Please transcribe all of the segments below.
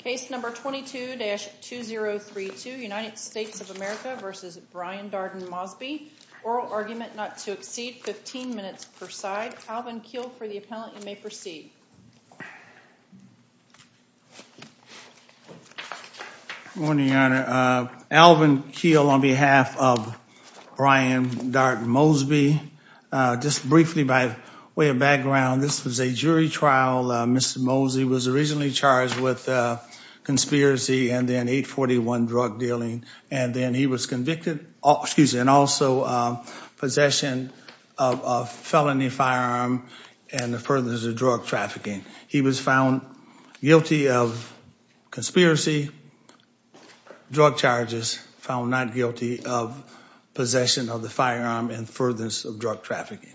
Case number 22-2032, United States of America v. Brian Darden Mosby, oral argument not to exceed 15 minutes per side. Alvin Keel for the appellant, you may proceed. Good morning, Your Honor. Alvin Keel on behalf of Brian Darden Mosby. Just briefly by way of with conspiracy and then 841 drug dealing and then he was convicted, excuse me, and also possession of a felony firearm and the furthest of drug trafficking. He was found guilty of conspiracy drug charges, found not guilty of possession of the firearm and furthest of drug trafficking.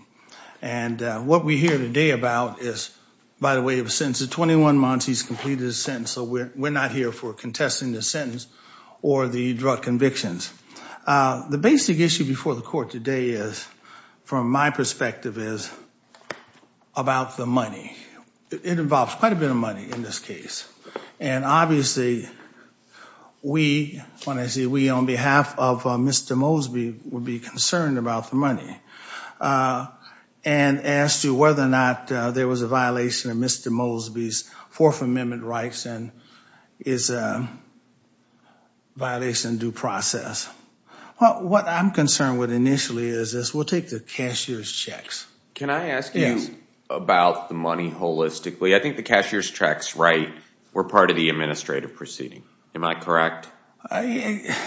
And what we hear today about is, by the way of a sentence of 21 months, he's completed his sentence, so we're not here for contesting the sentence or the drug convictions. The basic issue before the court today is, from my perspective, is about the money. It involves quite a bit of money in this case and obviously we, when I say we, on behalf of Mr. Mosby, would be concerned about the money and asked you whether or not there was a violation of Mr. Mosby's Fourth Amendment rights and is a violation of due process. What I'm concerned with initially is we'll take the cashier's checks. Can I ask you about the money holistically? I think the cashier's checks were part of the administrative proceeding, am I correct? Yeah,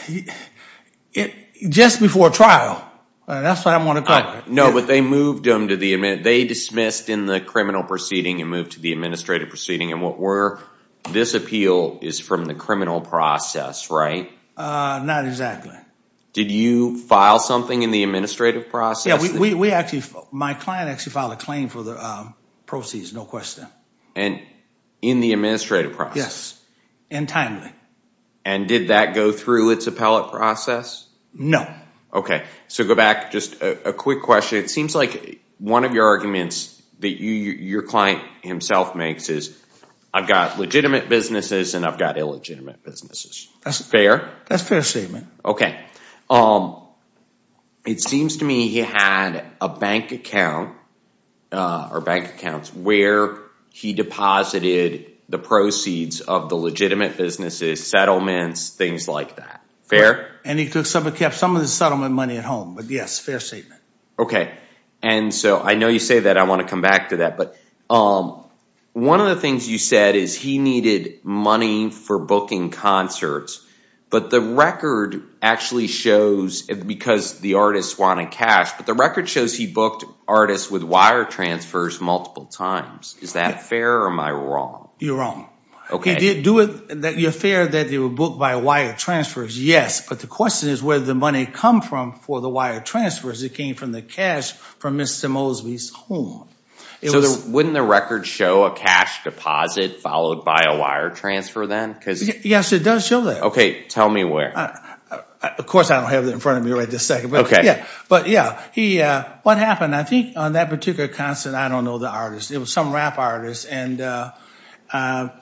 just before trial, that's what I want to call it. No, but they dismissed in the criminal proceeding and moved to the administrative proceeding and this appeal is from the criminal process, right? Not exactly. Did you file something in the administrative process? Yeah, my client actually filed a claim for the proceeds, no question. And in the administrative process? Yes, and timely. And did that go through its appellate process? No. Okay, so go back, just a quick question. It seems like one of your arguments that your client himself makes is, I've got legitimate businesses and I've got illegitimate businesses. That's fair? That's fair statement. Okay. It seems to me he had a bank account or bank accounts where he deposited the proceeds of the legitimate businesses, settlements, things like that. Fair? And he took some of the settlement money at home, but yes, fair statement. Okay, and so I know you say that, I want to come back to that, but one of the things you said is he needed money for booking concerts, but the record actually shows, because the artist wanted cash, but the record shows he artists with wire transfers multiple times. Is that fair or am I wrong? You're wrong. You're fair that they were booked by wire transfers, yes, but the question is where the money come from for the wire transfers. It came from the cash from Mr. Mosby's home. So wouldn't the record show a cash deposit followed by a wire transfer then? Yes, it does show that. Okay, tell me where. Of course I don't have it in front of me right this second, but yeah, what happened? I think on that particular concert, I don't know the artist. It was some rap artist and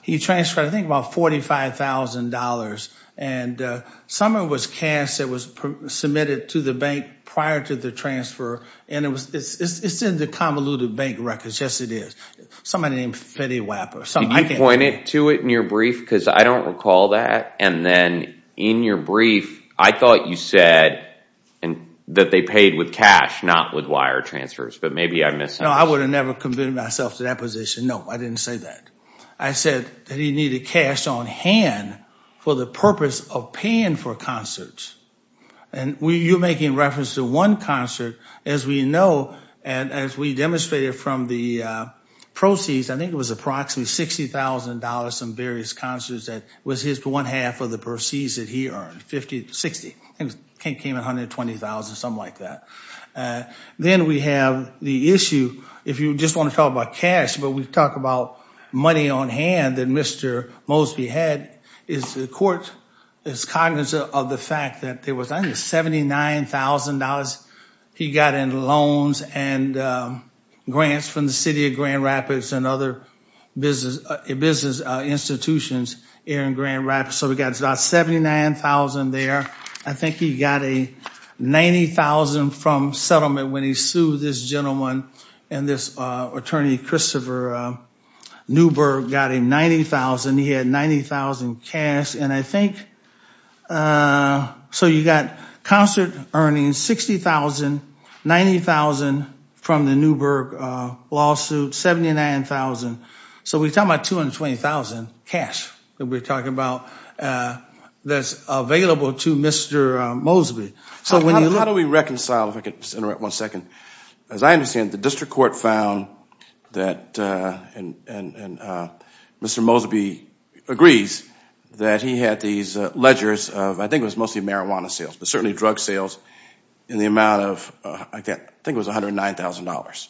he transferred I think about $45,000 and some of it was cash that was submitted to the bank prior to the transfer and it's in the convoluted bank records. Yes, it is. Somebody named Fetty Wapper. Did you point to it in your brief because I don't recall that and then in your brief I thought you said that they paid with cash, not with wire transfers, but maybe I'm missing. No, I would have never convinced myself to that position. No, I didn't say that. I said that he needed cash on hand for the purpose of paying for concerts and you're making reference to one concert as we know and as we demonstrated from the proceeds, I think it was approximately $60,000 in various concerts that was his one half of the proceeds that he earned, $60,000. I think it came in $120,000, something like that. Then we have the issue, if you just want to talk about cash, but we talk about money on hand that Mr. Mosby had is the court is cognizant of the fact that there was only $79,000 he got in loans and grants from the city of Grand Rapids and other business institutions here in Grand Rapids. So we got about $79,000 there. I think he got a $90,000 from settlement when he sued this gentleman and this attorney, Christopher Newberg, got him $90,000. He had cash and I think, so you got concert earnings, $60,000, $90,000 from the Newberg lawsuit, $79,000. So we're talking about $220,000 cash that we're talking about that's available to Mr. Mosby. How do we reconcile, if I could just interrupt one second. As I understand, the district court found that Mr. Mosby agrees that he had these ledgers of, I think it was mostly marijuana sales, but certainly drug sales in the amount of, I think it was $109,000.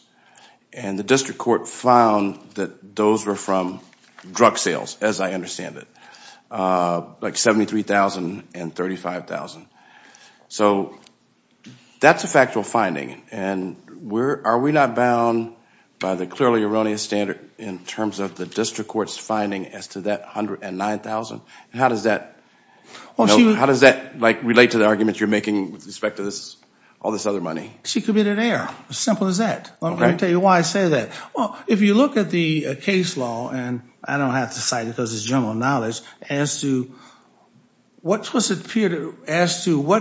And the district court found that those were from drug sales, as I understand it, like $73,000 and $35,000. So that's a factual finding. And are we not bound by the clearly erroneous standard in terms of the district court's finding as to that $109,000? And how does that relate to the arguments you're making with respect to all this other money? She committed error, as simple as that. I'm going to tell you why I say that. Well, you look at the case law, and I don't have to cite it because it's general knowledge, as to what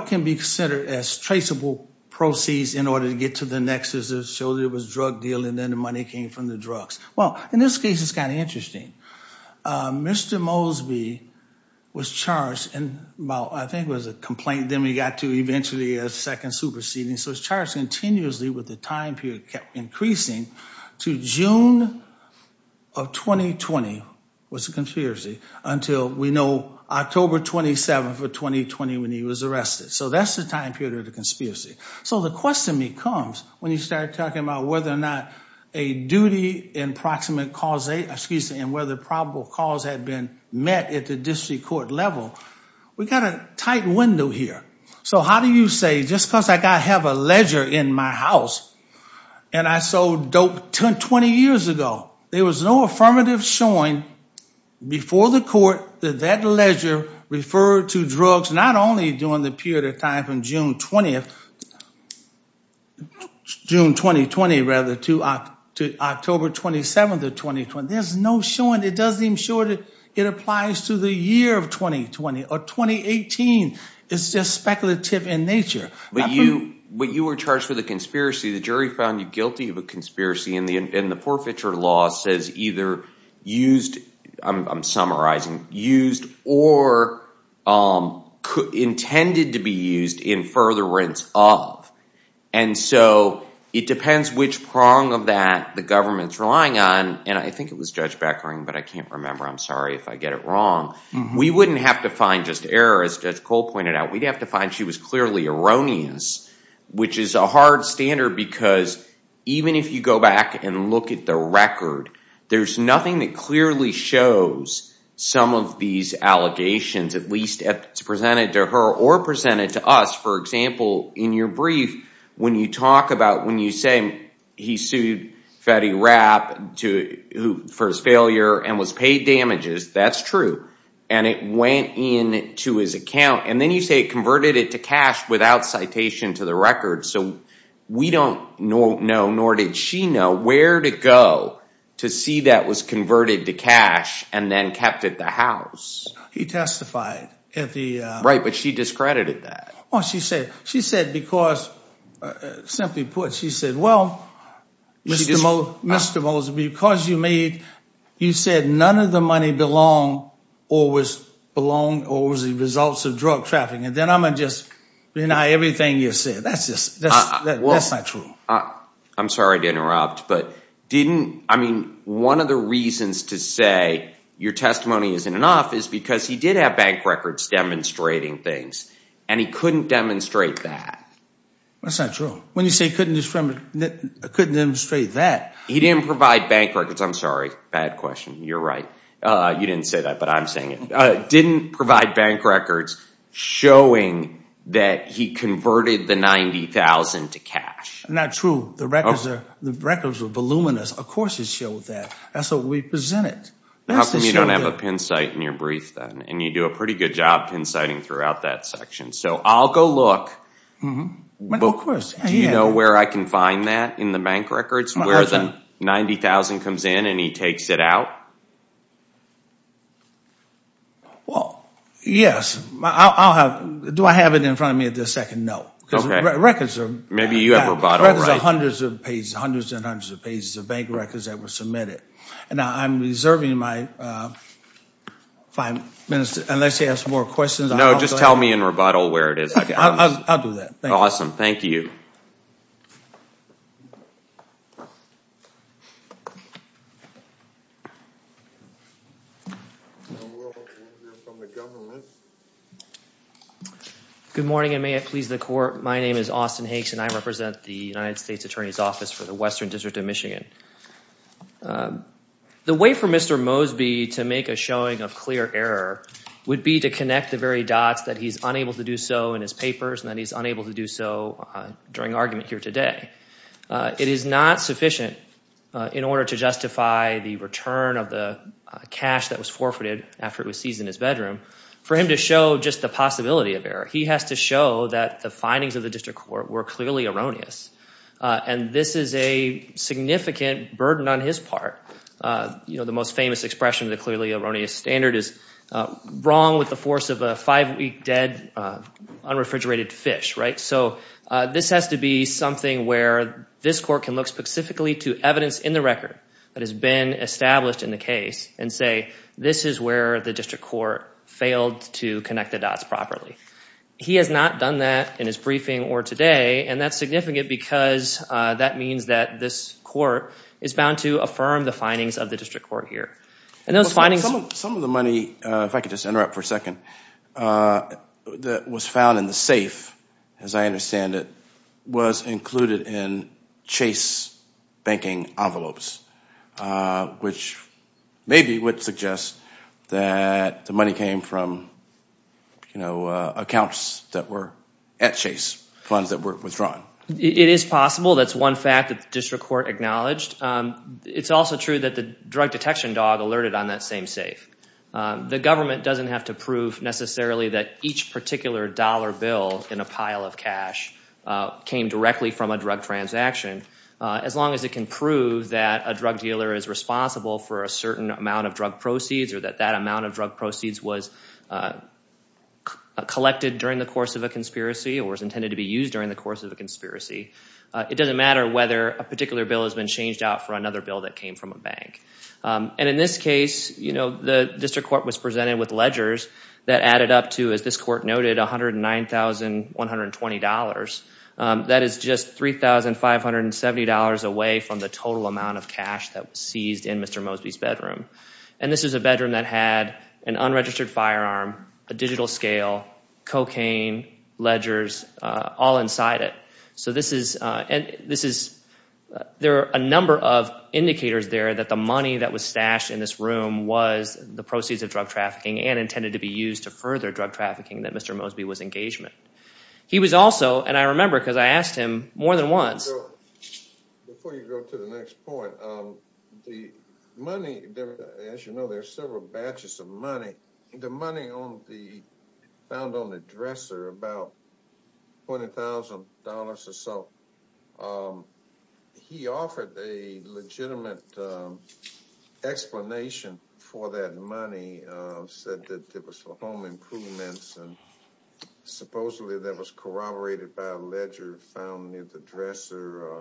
can be considered as traceable proceeds in order to get to the nexus that showed there was a drug deal and then the money came from the drugs. Well, in this case, it's kind of interesting. Mr. Mosby was charged in about, I think it was a complaint, then we got to eventually a second superseding. So he was charged continuously with the time period kept to June of 2020, was a conspiracy, until we know October 27th of 2020 when he was arrested. So that's the time period of the conspiracy. So the question becomes, when you start talking about whether or not a duty in proximate cause, excuse me, and whether probable cause had been met at the district court level, we got a tight window here. So how do you say, just because I have a in my house, and I sold dope 20 years ago, there was no affirmative showing before the court that that ledger referred to drugs, not only during the period of time from June 20th, June 2020, rather, to October 27th of 2020. There's no showing. It doesn't even show that it applies to the year of 2020 or 2018. It's just speculative in nature. But you were charged with a conspiracy. The jury found you guilty of a conspiracy, and the forfeiture law says either used, I'm summarizing, used or intended to be used in furtherance of. And so it depends which prong of that the government's relying on, and I think it was Judge Beckering, but I can't remember. I'm sorry if I get it wrong. We wouldn't have to find error, as Judge Cole pointed out. We'd have to find she was clearly erroneous, which is a hard standard because even if you go back and look at the record, there's nothing that clearly shows some of these allegations, at least if it's presented to her or presented to us. For example, in your brief, when you talk about when you say he sued Fetty Rapp for his failure and was paid damages, that's true. And it went in to his account. And then you say it converted it to cash without citation to the record. So we don't know, nor did she know, where to go to see that was converted to cash and then kept at the house. He testified at the- Right, but she discredited that. She said because, simply put, she said, well, Mr. Moseby, because you said none of the money belonged or was the results of drug trafficking, then I'm going to just deny everything you said. That's not true. I'm sorry to interrupt, but one of the reasons to say your testimony isn't enough is because he did have bank records demonstrating things, and he couldn't demonstrate that. That's not true. When you say couldn't demonstrate that- He didn't provide bank records. I'm sorry, bad question. You're right. You didn't say that, but I'm saying it. Didn't provide bank records showing that he converted the $90,000 to cash. Not true. The records were voluminous. Of course it showed that. That's what we presented. How come you don't have a pin site in your brief, then? You do a pretty good job pin siting throughout that section. I'll go look. Do you know where I can find that in the bank records, where the $90,000 comes in and he takes it out? Well, yes. Do I have it in front of me at the second note? Okay. Records are- Maybe you have a bottle right there. Hundreds and hundreds of pages of bank records that were submitted. Now, I'm reserving my five minutes unless you have some more questions. No, just tell me in rebuttal where it is. I'll do that. Thank you. Good morning, and may it please the court. My name is Austin Hanks, and I represent the United States Attorney's Office for the Western District of Michigan. The way for Mr. Mosby to make a showing of clear error would be to connect the very dots that he's unable to do so in his papers and that he's unable to do so during argument here today. It is not sufficient in order to justify the return of the cash that was forfeited after it was seized in his bedroom for him to show just the possibility of error. He has to show that the findings of the district court were clearly erroneous, and this is a significant burden on his part. The most famous expression of the clearly erroneous standard is wrong with the force of a five-week dead unrefrigerated fish. This has to be something where this court can look specifically to evidence in the record that has been established in the case and say, this is where the district court failed to connect the dots properly. He has not done that in his briefing or today, and that's significant because that means that this court is bound to affirm the findings of the district court here. Some of the money, if I could just interrupt for a second, that was found in the safe, as I understand it, was included in Chase banking envelopes, which maybe would suggest that the money came from accounts that were at Chase, funds that were withdrawn. It is possible. That's one fact that the district court acknowledged. It's also true that the drug detection dog alerted on that same safe. The government doesn't have to prove necessarily that each particular dollar bill in a pile of cash came directly from a drug transaction, as long as it can prove that a drug dealer is responsible for a certain amount of drug proceeds or that that amount of drug proceeds was collected during the course of a conspiracy or was intended to be used during the course of a conspiracy. It doesn't matter whether a particular bill has been changed out for another bill that came from a bank. And in this case, the district court was presented with ledgers that added up to, as this court noted, $109,120. That is just $3,570 away from the total amount of cash that was seized in Mr. Mosby's bedroom. And this is a bedroom that had an unregistered firearm, a digital scale, cocaine, ledgers, all inside it. There are a number of indicators there that the money that was stashed in this room was the proceeds of drug trafficking and intended to be used to further drug trafficking that Mr. Mosby was engaged in. He was also, and I remember because I asked him more than once. Before you go to the next point, the money, as you know, there are several batches of money. The money found on the dresser, about $20,000 or so, he offered a legitimate explanation for that money. Said that it was for home improvements and supposedly that was corroborated by a ledger found near the dresser.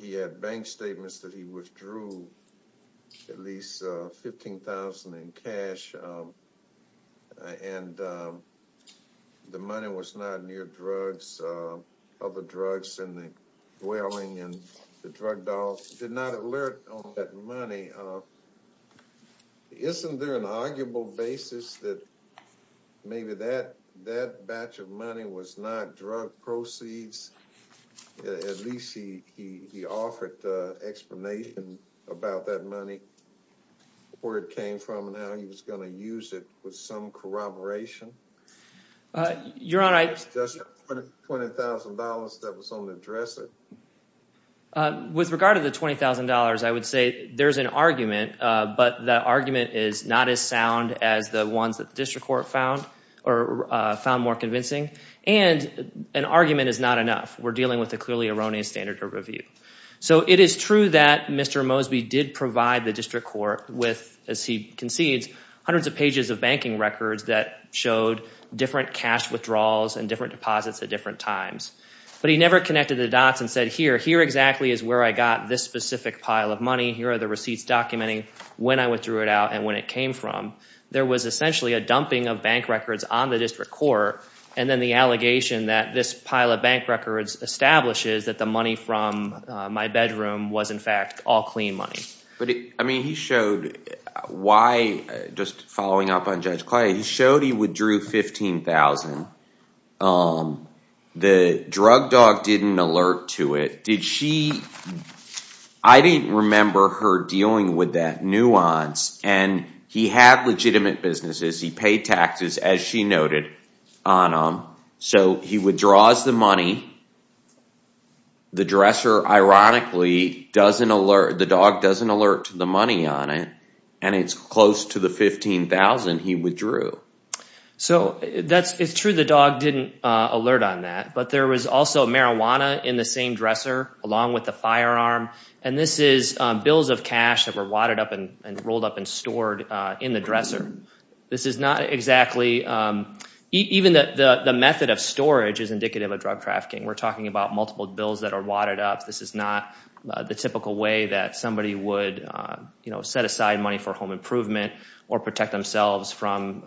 He had bank statements that he withdrew at least $15,000 in cash. And the money was not near drugs, other drugs in the dwelling and the drug doll. He did not alert on that money. Isn't there an arguable basis that maybe that batch of money was not drug proceeds? At least he offered explanation about that money, where it came from, and how he was going to use it with some corroboration? Your Honor, I... Just $20,000 that was on the dresser. With regard to the $20,000, I would say there's an argument, but the argument is not as sound as the ones that the district court found, or found more convincing. And an argument is not enough. We're dealing with a clearly erroneous standard of review. So it is true that Mr. Mosby did provide the district court with, as he concedes, hundreds of pages of banking records that showed different cash withdrawals and different deposits at different times. But he never connected the dots and said, here, here exactly is where I got this specific pile of money. Here are the receipts documenting when I withdrew it out and when it came from. There was essentially a dumping of bank records on the district court. And then the allegation that this pile of bank records establishes that the money from my bedroom was, in fact, all clean money. But, I mean, he showed why, just following up on Judge Clyde, he showed he withdrew $15,000. The drug dog didn't alert to it. Did she... I didn't remember her dealing with that nuance. And he had legitimate businesses. He paid taxes, as she noted, on them. So he withdraws the money. The dresser, ironically, doesn't alert. The dog doesn't alert to the money on it. And it's close to the $15,000 he withdrew. So it's true the dog didn't alert on that. But there was also marijuana in the same dresser, along with the firearm. And this is bills of cash that were wadded up and rolled up and stored in the dresser. This is not exactly... Even the method of storage is indicative of drug trafficking. We're talking about multiple bills that are wadded up. This is not the typical way that somebody would set aside money for home improvement or protect themselves from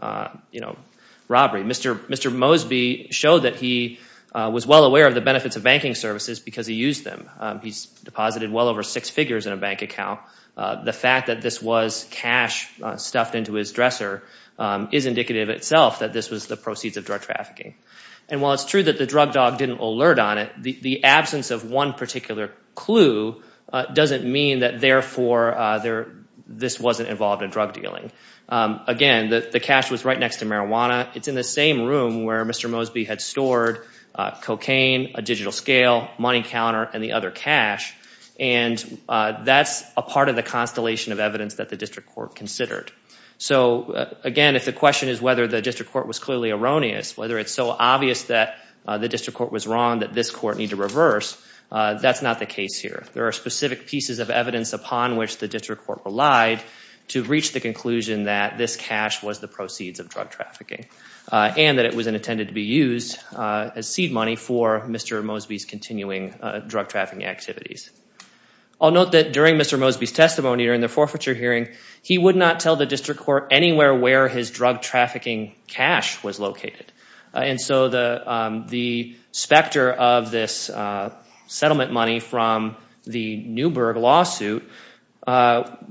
robbery. Mr. Mosby showed that he was well aware of the benefits of banking services because he used them. He's deposited well over six figures in a bank account. The fact that this was cash stuffed into his dresser is indicative itself that this was the proceeds of drug trafficking. And while it's true that the drug dog didn't alert on it, the absence of one particular clue doesn't mean that, therefore, this wasn't involved in drug dealing. Again, the cash was right next to marijuana. It's in the same room where Mr. Mosby had stored cocaine, a digital scale, money counter, and the other cash. And that's a part of the constellation of evidence that the district court considered. So, again, if the question is whether the district court was clearly erroneous, whether it's so obvious that the district court was wrong that this court need to reverse, that's not the case here. There are specific pieces of evidence upon which the district court relied to reach the conclusion that this cash was the proceeds of drug trafficking and that it was intended to be used as seed money for Mr. Mosby's continuing drug trafficking activities. I'll note that during Mr. Mosby's testimony during the forfeiture hearing, he would not tell the district court anywhere where his drug trafficking cash was located. And so the specter of this settlement money from the Newberg lawsuit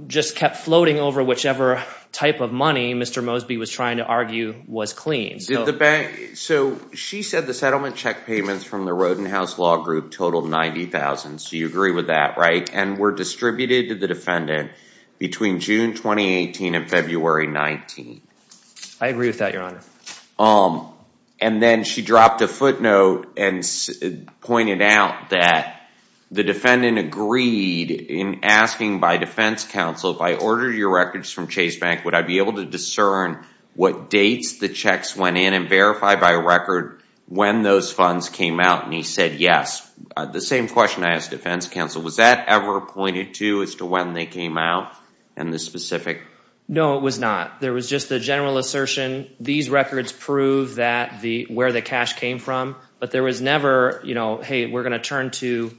just kept floating over whichever type of money Mr. Mosby was trying to argue was clean. So she said the settlement check payments from the Rodenhouse Law Group totaled $90,000. So you agree with that, right? And were distributed to the defendant between June 2018 and February 2019. I agree with that, your honor. And then she dropped a footnote and pointed out that the defendant agreed in asking by defense counsel, if I ordered your records from Chase Bank, would I be able to discern what dates the checks went in and verify by record when those funds came out? And he said yes. The same question I asked defense counsel, was that ever pointed to as to when they came out and the specific? No, it was not. There was just the general assertion, these records prove where the cash came from. But there was never, hey, we're going to turn to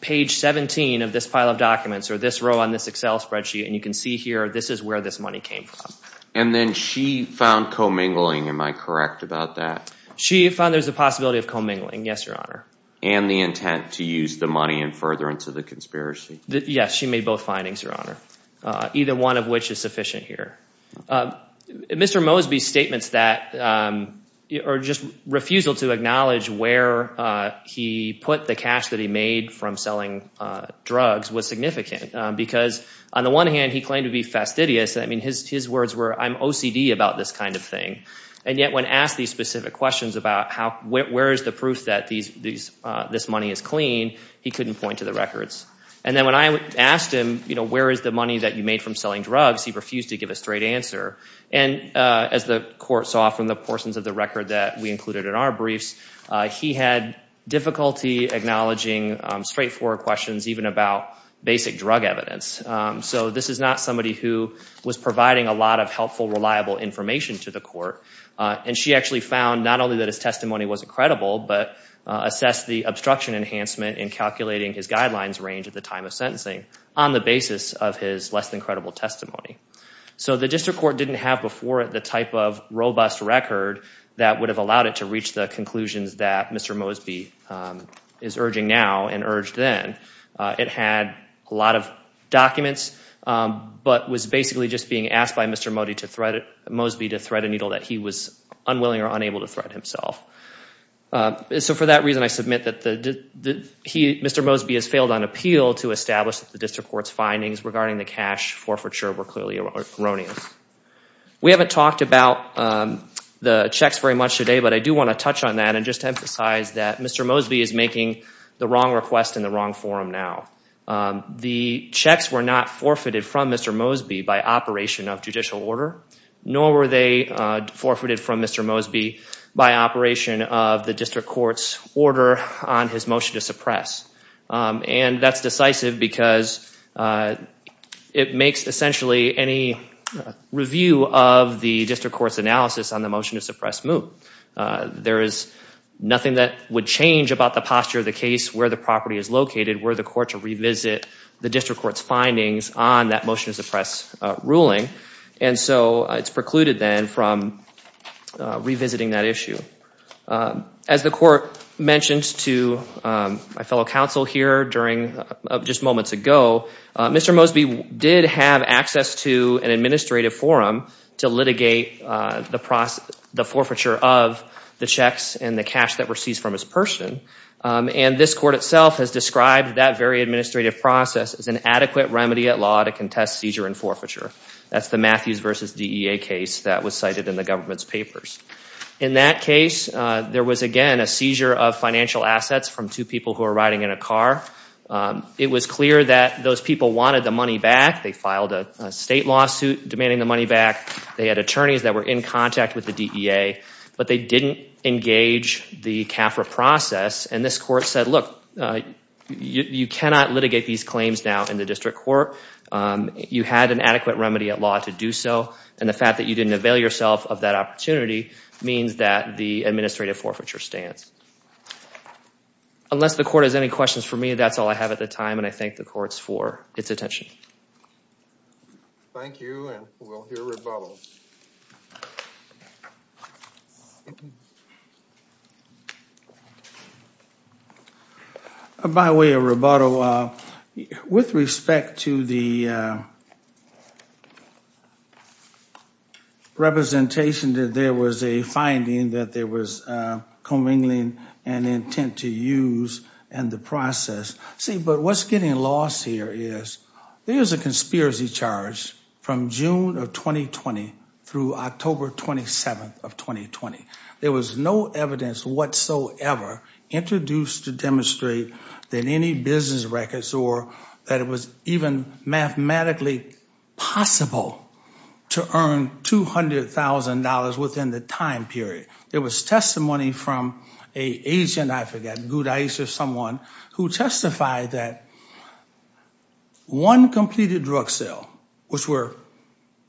page 17 of this pile of documents or this row on this Excel spreadsheet. And you can see here, this is where this money came from. And then she found commingling. Am I correct about that? She found there's a possibility of commingling. Yes, your honor. And the intent to use the money in furtherance of the conspiracy. Yes, she made both findings, your honor. Either one of which is sufficient here. Mr. Mosby's statements that, or just refusal to acknowledge where he put the cash that he made from selling drugs was significant. Because on the one hand, he claimed to be fastidious. I mean, his words were, I'm OCD about this kind of thing. And yet when asked these specific questions about how, where is the proof that this money is clean, he couldn't point to the records. And then when I asked him, where is the money that you made from selling drugs, he refused to give a straight answer. And as the court saw from the portions of the record that we included in our briefs, he had difficulty acknowledging straightforward questions, even about basic drug evidence. So this is not somebody who was providing a lot of helpful, reliable information to the court. And she actually found not only that his testimony wasn't credible, but assessed the obstruction enhancement in calculating his guidelines range at the time of sentencing on the basis of his less than credible testimony. So the district court didn't have before it the type of robust record that would have allowed it to reach the conclusions that Mr. Mosby is urging now and urged then. It had a lot of documents, but was basically just being asked by Mr. Mosby to thread a needle that he was unwilling or unable to thread himself. So for that reason, I submit that Mr. Mosby has failed on appeal to establish that the district court's findings regarding the cash forfeiture were clearly erroneous. We haven't talked about the checks very much today, but I do want to touch on that and just emphasize that Mr. Mosby is making the wrong request in the wrong forum now. The checks were not forfeited from Mr. Mosby by operation of judicial order, nor were they forfeited from Mr. Mosby by operation of the district court's order on his motion to suppress. And that's decisive because it makes essentially any review of the district court's analysis on the motion to suppress moot. There is nothing that would change about the posture of the case, where the property is located, where the court should revisit the district court's findings on that motion to suppress ruling. And so it's precluded then from revisiting that issue. As the court mentioned to my fellow counsel here during just moments ago, Mr. Mosby did have access to an administrative forum to litigate the forfeiture of the checks and the cash that were seized from his person. And this court itself has described that very administrative process as an adequate remedy at law to contest seizure and forfeiture. That's the Matthews v. DEA case that was cited in the government's papers. In that case, there was again a seizure of financial assets from two people who were riding in a car. It was clear that those people wanted the money back. They filed a state lawsuit demanding the money back. They had attorneys that were in contact with the DEA, but they didn't engage the CAFRA process. And this court said, look, you cannot litigate these claims now in the district court. You had an adequate remedy at law to do so, and the fact that you didn't avail yourself of that opportunity means that the administrative forfeiture stands. Unless the court has any questions for me, that's all I have at the time, and I thank the courts for its attention. Thank you, and we'll hear rebuttals. By way of rebuttal, with respect to the representation that there was a finding that there was commingling and intent to use and the process, see, but what's getting lost here is there's a conspiracy charge from June of 2020 through October 27th of 2020. There was no evidence whatsoever introduced to demonstrate that any business records or that it was even mathematically possible to earn $200,000 within the time period. There was testimony from an agent, I forget, someone who testified that one completed drug sale, which were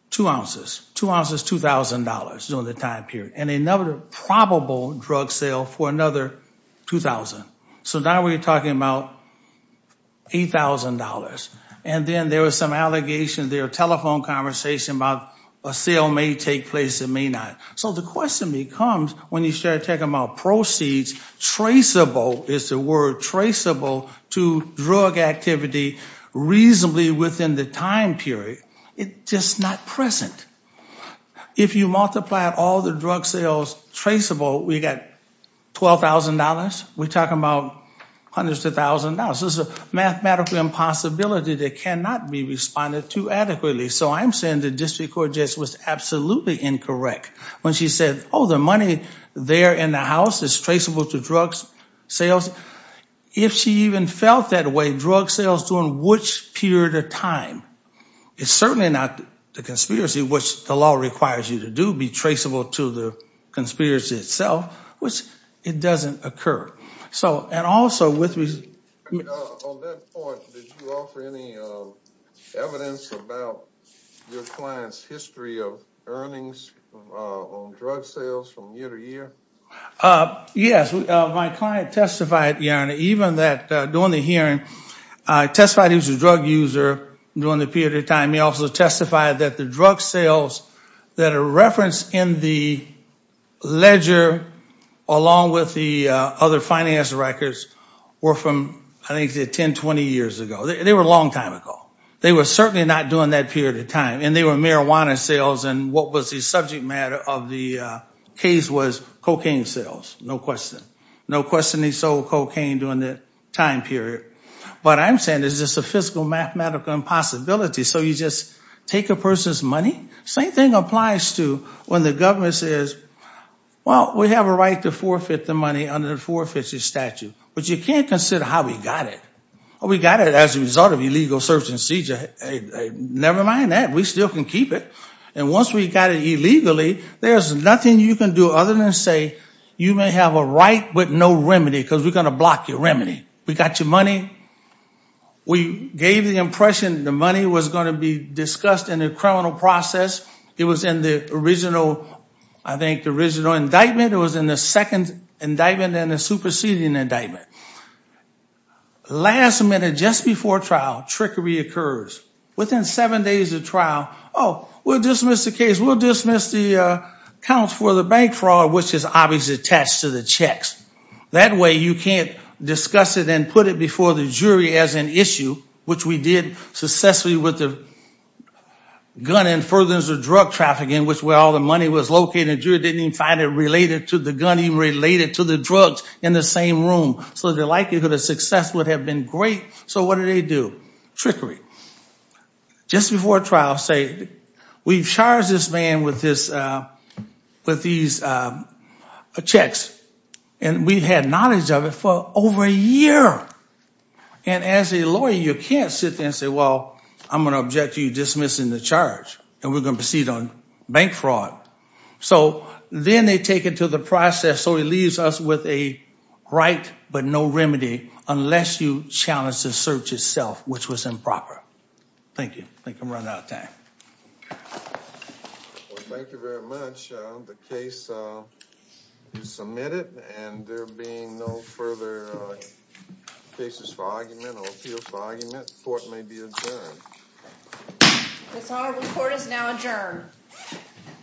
two ounces, $2,000 during the time period, and another probable drug sale for another $2,000. So now we're talking about $8,000. And then there was some allegations, there were telephone conversations about a sale may take place, it may not. So the question becomes, when you start talking about proceeds, traceable, is the word traceable, to drug activity reasonably within the time period, it's just not present. If you multiply all the drug sales traceable, we got $12,000. We're talking about hundreds of thousands now. So it's a mathematical impossibility that cannot be responded to adequately. So I'm saying the district court judge was absolutely incorrect when she said, oh, the money there in the house is traceable to drug sales. If she even felt that way, drug sales during which period of time? It's certainly not the conspiracy, which the law requires you to do, be traceable to the conspiracy itself, which it doesn't occur. So, and also, with On that point, did you offer any evidence about your client's history of earnings on drug sales from year to year? Yes, my client testified, even that during the hearing, testified he was a drug user during the period of time. He also testified that the drug sales that are referenced in the records were from I think 10, 20 years ago. They were a long time ago. They were certainly not during that period of time. And they were marijuana sales and what was the subject matter of the case was cocaine sales, no question. No question they sold cocaine during that time period. But I'm saying it's just a physical mathematical impossibility. So you just take a person's money? Same thing applies to when the government says, well, we have a right to forfeit the money under the forfeiture statute. But you can't consider how we got it. Oh, we got it as a result of illegal search and seizure. Never mind that. We still can keep it. And once we got it illegally, there's nothing you can do other than say, you may have a right, but no remedy, because we're going to block your remedy. We got your money. We gave the impression the money was going to be discussed in the criminal process. It was in the original, I think, original indictment. It was in the second indictment and the superseding indictment. Last minute, just before trial, trickery occurs. Within seven days of trial, oh, we'll dismiss the case. We'll dismiss the accounts for the bank fraud, which is obviously attached to the checks. That way, you can't discuss it and put it before the jury as an issue, which we did successfully with the gun and furtherance of drug trafficking, which where all the money was located. The jury didn't even find it related to the gun, even related to the drugs in the same room. So the likelihood of success would have been great. So what do they do? Trickery. Just before trial, say, we've charged this man with these checks. And we've had knowledge of it for over a year. And as a lawyer, you can't sit there and say, well, I'm going to object to you dismissing the charge. And we're going to proceed on bank fraud. So then they take it to the process. So it leaves us with a right, but no remedy, unless you challenge the search itself, which was improper. Thank you. I think I'm running out of time. Thank you very much. The case is submitted and there being no further cases for argument or appeals for argument, the court may be adjourned. This hour, the court is now adjourned.